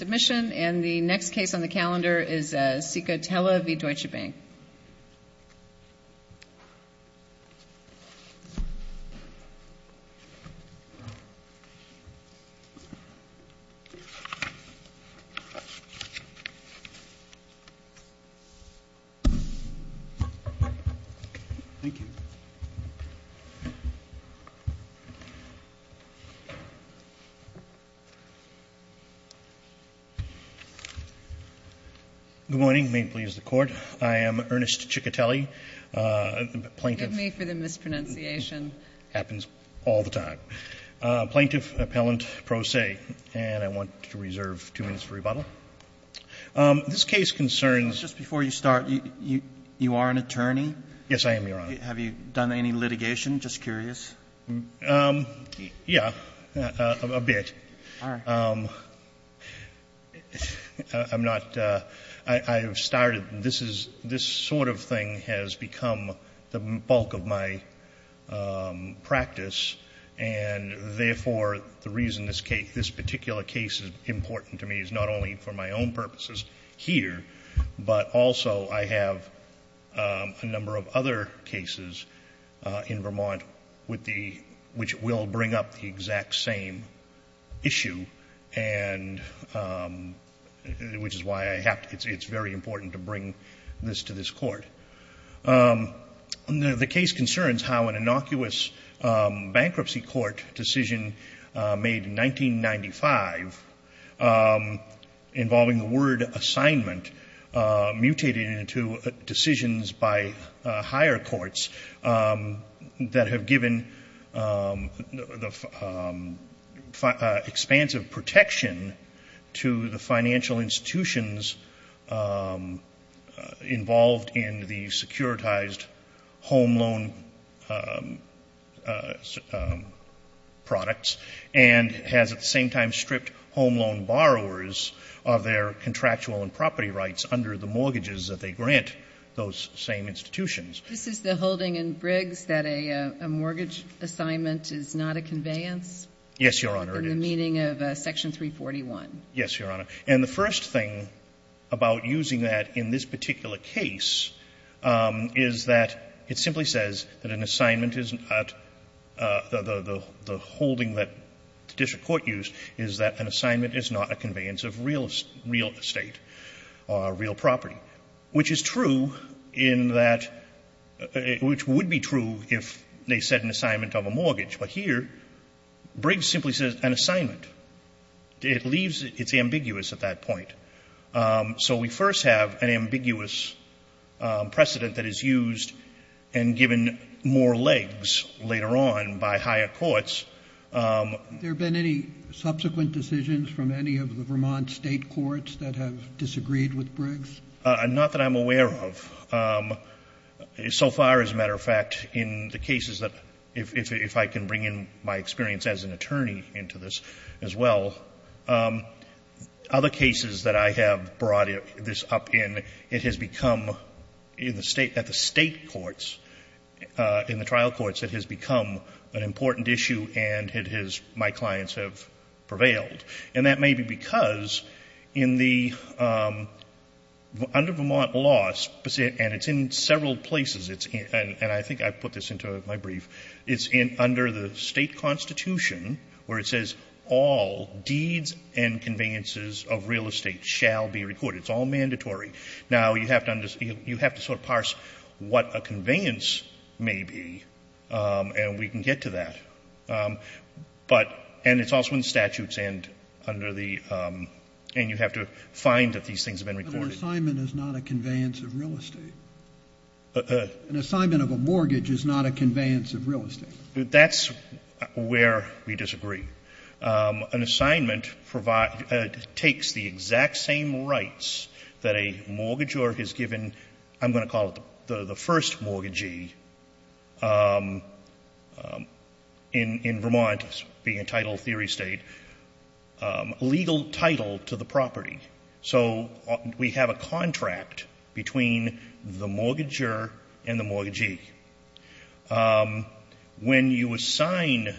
And the next case on the calendar is Ciccotelli v. Deutsche Bank. Ernst Ciccotelli, Jr. Good morning. May it please the Court. I am Ernest Ciccotelli, plaintiff. Kagan Give me for the mispronunciation. Ciccotelli It happens all the time. Plaintiff, appellant pro se. And I want to reserve two minutes for rebuttal. This case concerns the Court. Roberts Just before you start, you are an attorney? Ciccotelli Yes, I am, Your Honor. Roberts Have you done any litigation? Just curious. Ciccotelli Yeah, a bit. I'm not, I've started, this is, this sort of thing has become the bulk of my practice. And therefore, the reason this case, this particular case is important to me is not only for my own purposes here, but also I have a number of other cases in Vermont with the, which will bring up the exact same issue, and, which is why I have to, it's very important to bring this to this Court. The case concerns how an innocuous bankruptcy court decision made in 1995, involving the word assignment, mutated into decisions by higher courts that have given the expansive protection to the financial institutions involved in the securitized home loan products, and has at the same time stripped home loan borrowers of their contractual and property rights under the mortgages that they grant those same institutions. Kagan This is the holding in Briggs that a mortgage assignment is not a conveyance? Roberts Yes, Your Honor, it is. Kagan In the meaning of section 341? Roberts Yes, Your Honor. And the first thing about using that in this particular case is that it simply says that an assignment is not, the holding that the district court used is that an assignment is not a conveyance of real estate or real property, which is true in that, which would be true if they said an assignment of a mortgage. But here, Briggs simply says an assignment. It leaves, it's ambiguous at that point. So we first have an ambiguous precedent that is used and given more legs later on by higher courts. Roberts There have been any subsequent decisions from any of the Vermont State courts that have disagreed with Briggs? Roberts Not that I'm aware of. So far, as a matter of fact, in the cases that, if I can bring in my experience as an attorney into this as well, other cases that I have brought this up in, it has become, in the State, at the State courts, in the trial courts, it has become an important issue and it has, my clients have prevailed. And that may be because in the, under Vermont law, and it's in several places, and I think I put this into my brief, it's under the State Constitution where it says all deeds and conveyances of real estate shall be recorded. It's all mandatory. Now, you have to sort of parse what a conveyance may be and we can get to that. But, and it's also in the statutes and under the, and you have to find that these things have been recorded. Roberts An assignment is not a conveyance of real estate. An assignment of a mortgage is not a conveyance of real estate. Roberts That's where we disagree. An assignment takes the exact same rights that a mortgagor has given, I'm going to call it the first mortgagee, in Vermont, being a title theory State, legal title to the property. So we have a contract between the mortgagor and the mortgagee. When you assign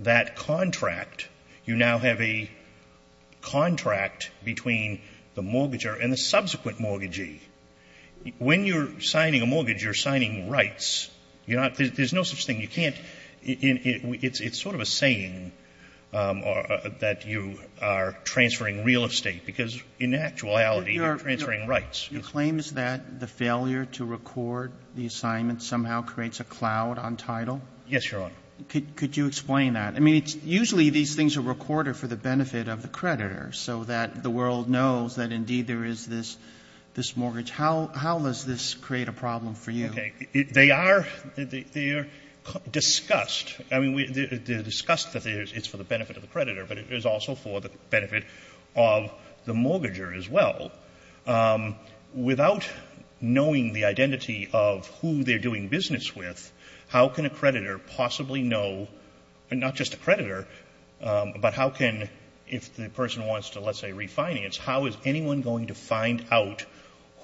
that contract, you now have a contract between the mortgageor and the subsequent mortgagee. When you're signing a mortgage, you're signing rights. You're not, there's no such thing. You can't, it's sort of a saying that you are transferring real estate, because in actuality, you're transferring rights. Roberts You claim that the failure to record the assignment somehow creates a cloud on title? Carvin Yes, Your Honor. Roberts Could you explain that? I mean, it's usually these things are recorded for the benefit of the creditor so that the world knows that indeed there is this mortgage. How does this create a problem for you? Carvin Okay. They are discussed. I mean, they're discussed that it's for the benefit of the creditor, but it is also for the benefit of the mortgagor as well. Without knowing the identity of who they're doing business with, how can a creditor possibly know, not just a creditor, but how can, if the person wants to, let's say, refinance, how is anyone going to find out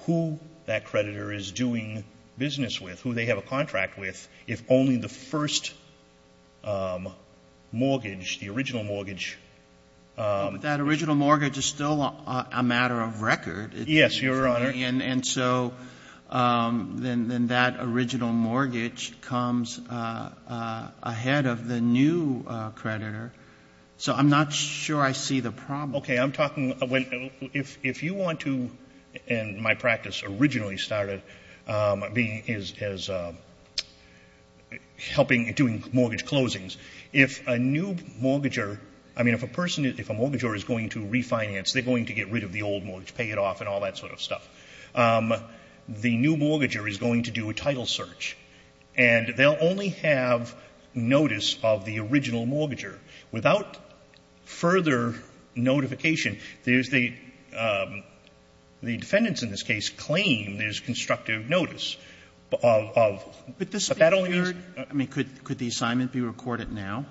who that creditor is doing business with, who they have a contract with, if only the first mortgage, the original mortgage? Roberts That original mortgage is still a matter of record. Carvin Yes, Your Honor. Roberts And so then that original mortgage comes ahead of the new creditor. So I'm not sure I see the problem. Carvin Okay. I'm talking, if you want to, and my practice originally started as helping and doing mortgage closings, if a new mortgagor, I mean, if a person, if a mortgagor is going to refinance, they're going to get rid of the old mortgage, pay it off, and all that sort of stuff. The new mortgagor is going to do a title search, and they'll only have notice of the original mortgagor. Without further notification, there's the defendant's, in this case, claim, there's constructive notice of that only means. Roberts But the speaker, I mean, could the assignment be recorded now?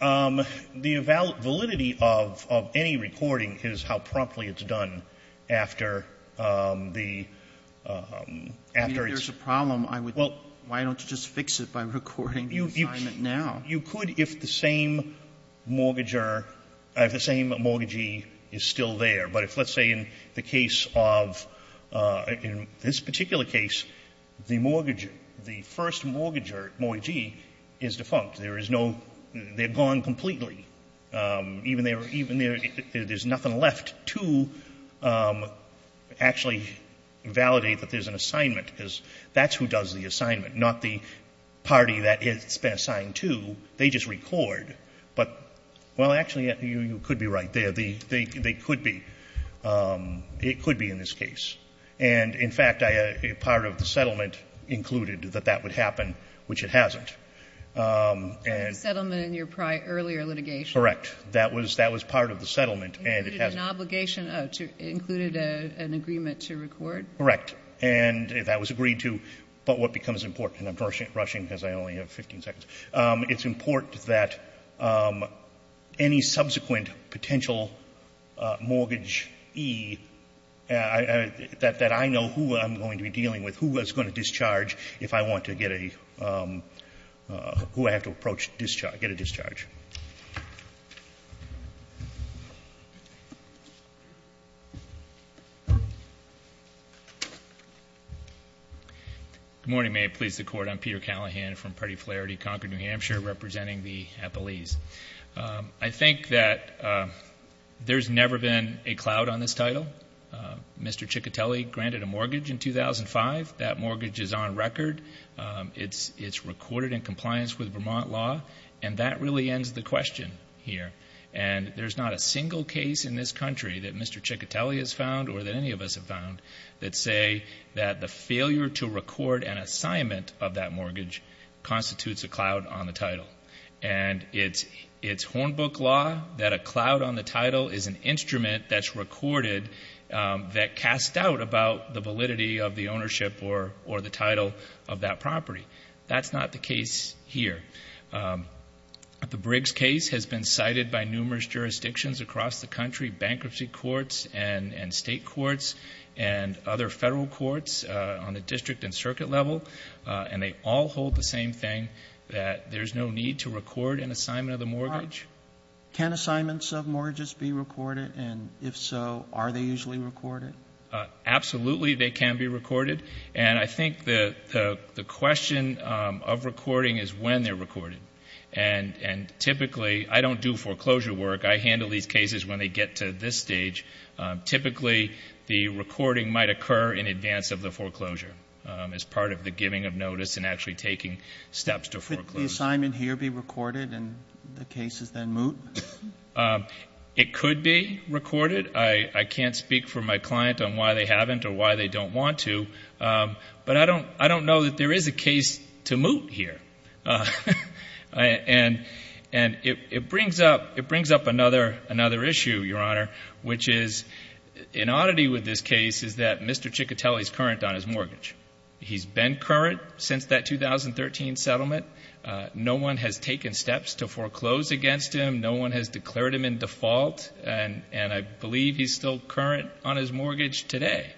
Carvin The validity of any recording is how promptly it's done after the --- Sotomayor I mean, if there's a problem, I would--- Carvin Well--- Sotomayor why don't you just fix it by recording the assignment now? Carvin You could if the same mortgagor, if the same mortgagee is still there. But if, let's say, in the case of, in this particular case, the mortgage, the first mortgagor, mortgagee, is defunct. There is no, they're gone completely. Even there, there's nothing left to actually validate that there's an assignment because that's who does the assignment, not the party that it's been assigned to. They just record. But, well, actually, you could be right there. They could be. It could be in this case. And, in fact, part of the settlement included that that would happen, which it hasn't. And- Sotomayor Part of the settlement in your prior, earlier litigation? Carvin Correct. That was part of the settlement. And it has- Sotomayor It included an obligation, it included an agreement to record? Carvin Correct. And that was agreed to. But what becomes important, and I'm rushing because I only have 15 seconds, it's important that any subsequent potential mortgagee, that I know who I'm going to be who I have to approach, get a discharge. Peter Callahan Good morning. May it please the Court, I'm Peter Callahan from Party Flaherty Concord, New Hampshire, representing the Appalese. I think that there's never been a cloud on this title. Mr. Ciccatelli granted a mortgage in 2005. That mortgage is on record. It's recorded in compliance with Vermont law. And that really ends the question here. And there's not a single case in this country that Mr. Ciccatelli has found, or that any of us have found, that say that the failure to record an assignment of that mortgage constitutes a cloud on the title. And it's Hornbook law that a cloud on the title is an instrument that's recorded that casts doubt about the validity of the ownership or the title of that property. That's not the case here. The Briggs case has been cited by numerous jurisdictions across the country, bankruptcy courts and state courts and other federal courts on the district and circuit level. And they all hold the same thing, that there's no need to record an assignment of the mortgage. Can assignments of mortgages be recorded? And if so, are they usually recorded? Absolutely, they can be recorded. And I think the question of recording is when they're recorded. And typically, I don't do foreclosure work. I handle these cases when they get to this stage. Typically, the recording might occur in advance of the foreclosure as part of the giving of notice and actually taking steps to foreclose. Could the assignment here be recorded and the cases then moot? It could be recorded. I can't speak for my client on why they haven't or why they don't want to. But I don't know that there is a case to moot here. And it brings up another issue, Your Honor, which is an oddity with this case is that Mr. Ciccatelli is current on his mortgage. He's been current since that 2013 settlement. No one has taken steps to foreclose against him. No one has declared him in default. And I believe he's still current on his mortgage today.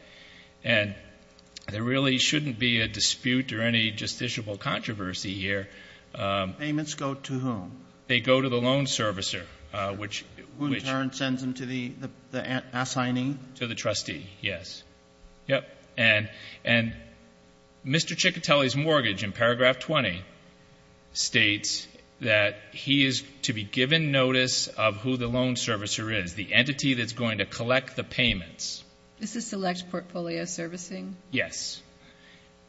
And there really shouldn't be a dispute or any justiciable controversy here. Payments go to whom? They go to the loan servicer, which Who in turn sends them to the assignee? To the trustee, yes. Yep. And Mr. Ciccatelli's mortgage in paragraph 20 states that he is to be given notice of who the loan servicer is, the entity that's going to collect the payments. Is this select portfolio servicing? Yes.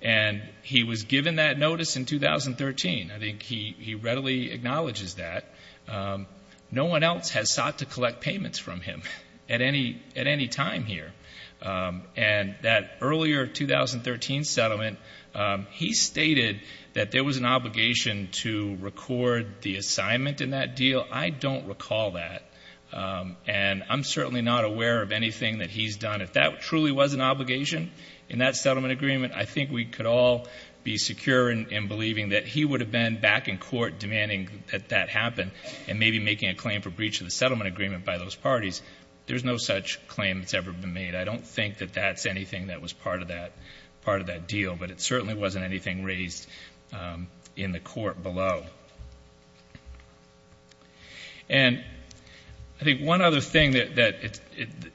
And he was given that notice in 2013. I think he readily acknowledges that. No one else has sought to collect payments from him at any time here. And that earlier 2013 settlement, he stated that there was an obligation to record the assignment in that deal. I don't recall that. And I'm certainly not aware of anything that he's done. If that truly was an obligation in that settlement agreement, I think we could all be secure in believing that he would have been back in court demanding that that happen. And maybe making a claim for breach of the settlement agreement by those parties. There's no such claim that's ever been made. I don't think that that's anything that was part of that deal. But it certainly wasn't anything raised in the court below. And I think one other thing that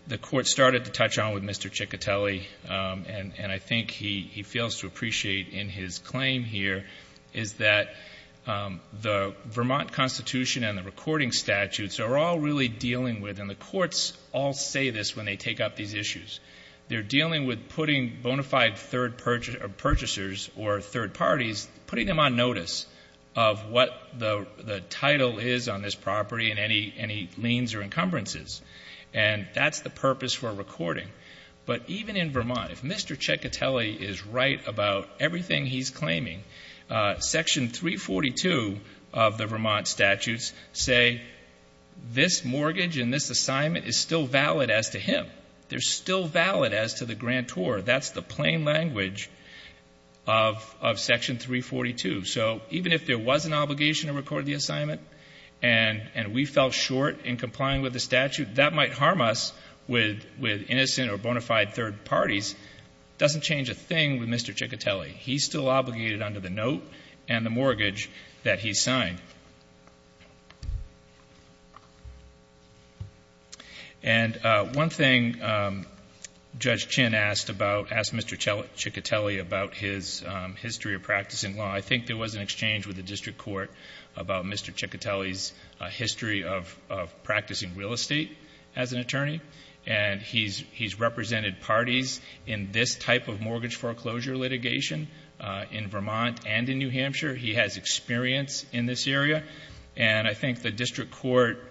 the court started to touch on with Mr. Ciccatelli, and I think he fails to appreciate in his claim here, is that the Vermont Constitution and the recording statutes are all really dealing with, and the courts all say this when they take up these issues, they're dealing with putting bona fide third purchasers or third parties, putting them on notice of what the title is on this property and any liens or encumbrances. And that's the purpose for recording. But even in Vermont, if Mr. Ciccatelli is right about everything he's claiming, section 342 of the Vermont statutes say this mortgage and this assignment is still valid as to him. They're still valid as to the grantor. That's the plain language of section 342. So even if there was an obligation to record the assignment, and we fell short in complying with the statute, that might harm us with innocent or bona fide third parties. Doesn't change a thing with Mr. Ciccatelli. He's still obligated under the note and the mortgage that he signed. And one thing Judge Chin asked Mr. Ciccatelli about his history of practicing law. So I think there was an exchange with the district court about Mr. Ciccatelli's history of practicing real estate as an attorney. And he's represented parties in this type of mortgage foreclosure litigation in Vermont and in New Hampshire. He has experience in this area. And I think the district court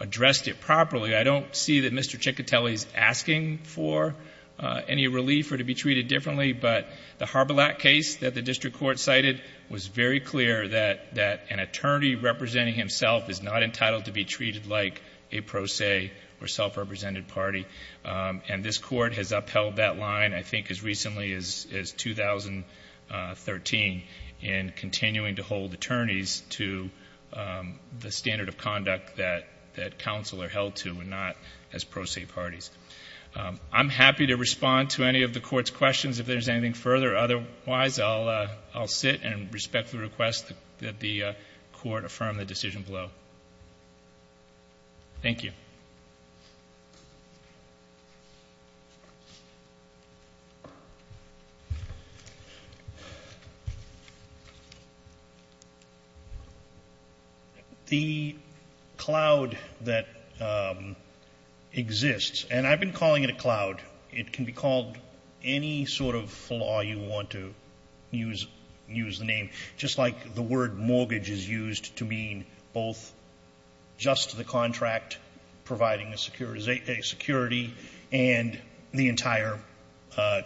addressed it properly. I don't see that Mr. Ciccatelli's asking for any relief or to be treated differently. But the Harbalack case that the district court cited was very clear that an attorney representing himself is not entitled to be treated like a pro se or self-represented party. And this court has upheld that line, I think, as recently as 2013 in continuing to hold attorneys to the standard of conduct that counsel are held to and not as pro se parties. I'm happy to respond to any of the court's questions if there's anything further. Otherwise, I'll sit and respectfully request that the court affirm the decision below. Thank you. The cloud that exists, and I've been calling it a cloud. It can be called any sort of flaw you want to use the name. Just like the word mortgage is used to mean both just the contract providing a security and the entire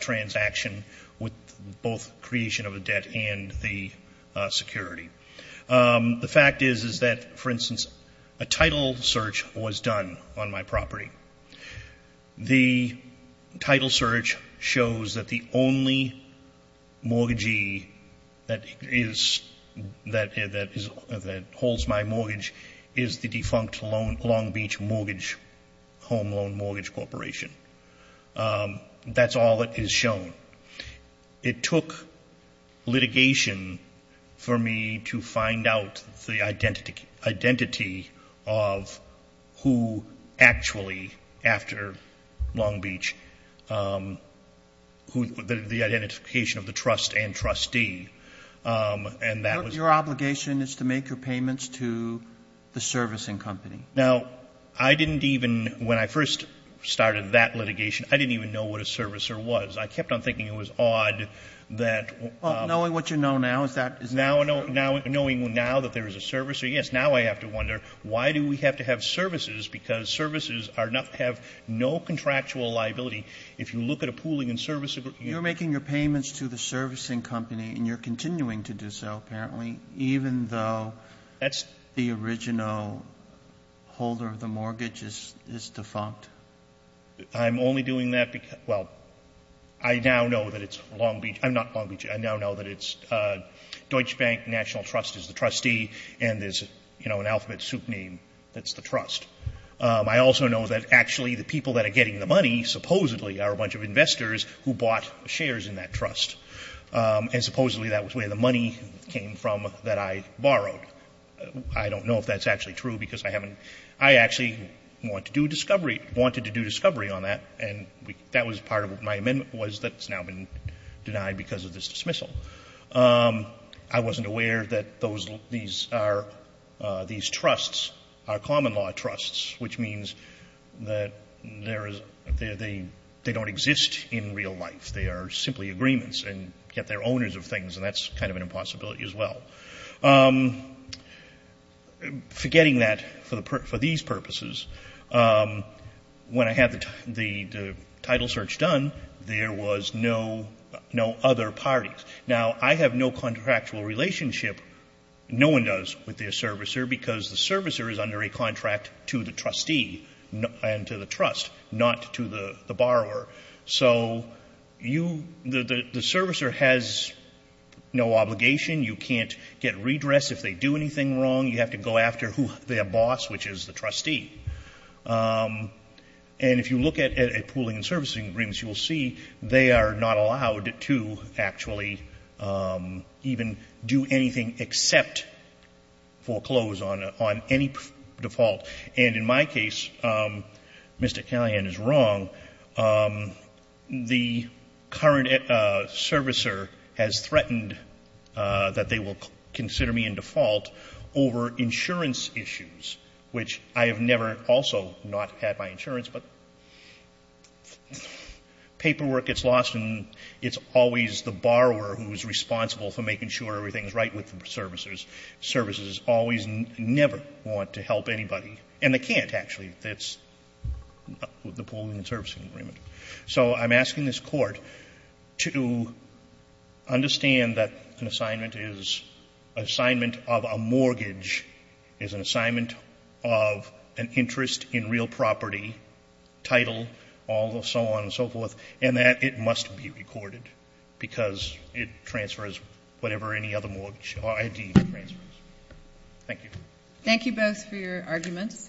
transaction with both creation of a debt and the security. The fact is, is that, for instance, a title search was done on my property. The title search shows that the only mortgagee that holds my mortgage is the defunct Long Beach mortgage home loan mortgage corporation. That's all that is shown. It took litigation for me to find out the identity of who actually, after Long Beach, the identification of the trust and trustee, and that was- Your obligation is to make your payments to the servicing company. Now, I didn't even, when I first started that litigation, I didn't even know what a servicer was. I kept on thinking it was odd that- Well, knowing what you know now, is that- Now, knowing now that there is a servicer, yes. Now I have to wonder, why do we have to have services, because services are not, have no contractual liability. If you look at a pooling and servicing- You're making your payments to the servicing company, and you're continuing to do so, apparently. Even though- That's- The original holder of the mortgage is defunct. I'm only doing that because, well, I now know that it's Long Beach, I'm not Long Beach, I now know that it's Deutsche Bank National Trust is the trustee, and there's, you know, an alphabet soup name that's the trust. I also know that actually the people that are getting the money, supposedly, are a bunch of investors who bought shares in that trust. And supposedly that was where the money came from that I borrowed. I don't know if that's actually true, because I haven't, I actually wanted to do discovery on that, and that was part of my amendment, was that it's now been denied because of this dismissal. I wasn't aware that these trusts are common law trusts, which means that they don't exist in real life. They are simply agreements, and yet they're owners of things, and that's kind of an impossibility as well. Forgetting that, for these purposes, when I had the title search done, there was no other parties. Now, I have no contractual relationship, no one does, with their servicer, because the servicer is under a contract to the trustee and to the trust, not to the borrower. So, the servicer has no obligation, you can't get redress if they do anything wrong. You have to go after their boss, which is the trustee. And if you look at pooling and servicing agreements, you will see they are not allowed to actually even do anything except foreclose on any default. And in my case, Mr. Callahan is wrong, the current servicer has threatened that they will consider me in default over insurance issues, which I have never also not had my insurance, but paperwork gets lost and it's always the borrower who's responsible for making sure everything's right with the servicers. Servicers always never want to help anybody, and they can't, actually. That's the pooling and servicing agreement. So, I'm asking this Court to understand that an assignment is an assignment of a mortgage, is an assignment of an interest in real property, title, all the so on and so forth, and that it must be recorded, because it transfers whatever any other mortgage or ID transfers. Thank you. Thank you both for your arguments,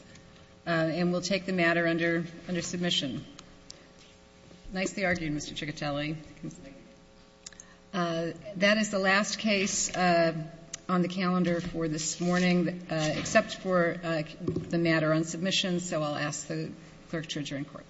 and we'll take the matter under submission. Nicely argued, Mr. Ciccatelli. That is the last case on the calendar for this morning, except for the matter on submission, so I'll ask the clerk to adjourn court.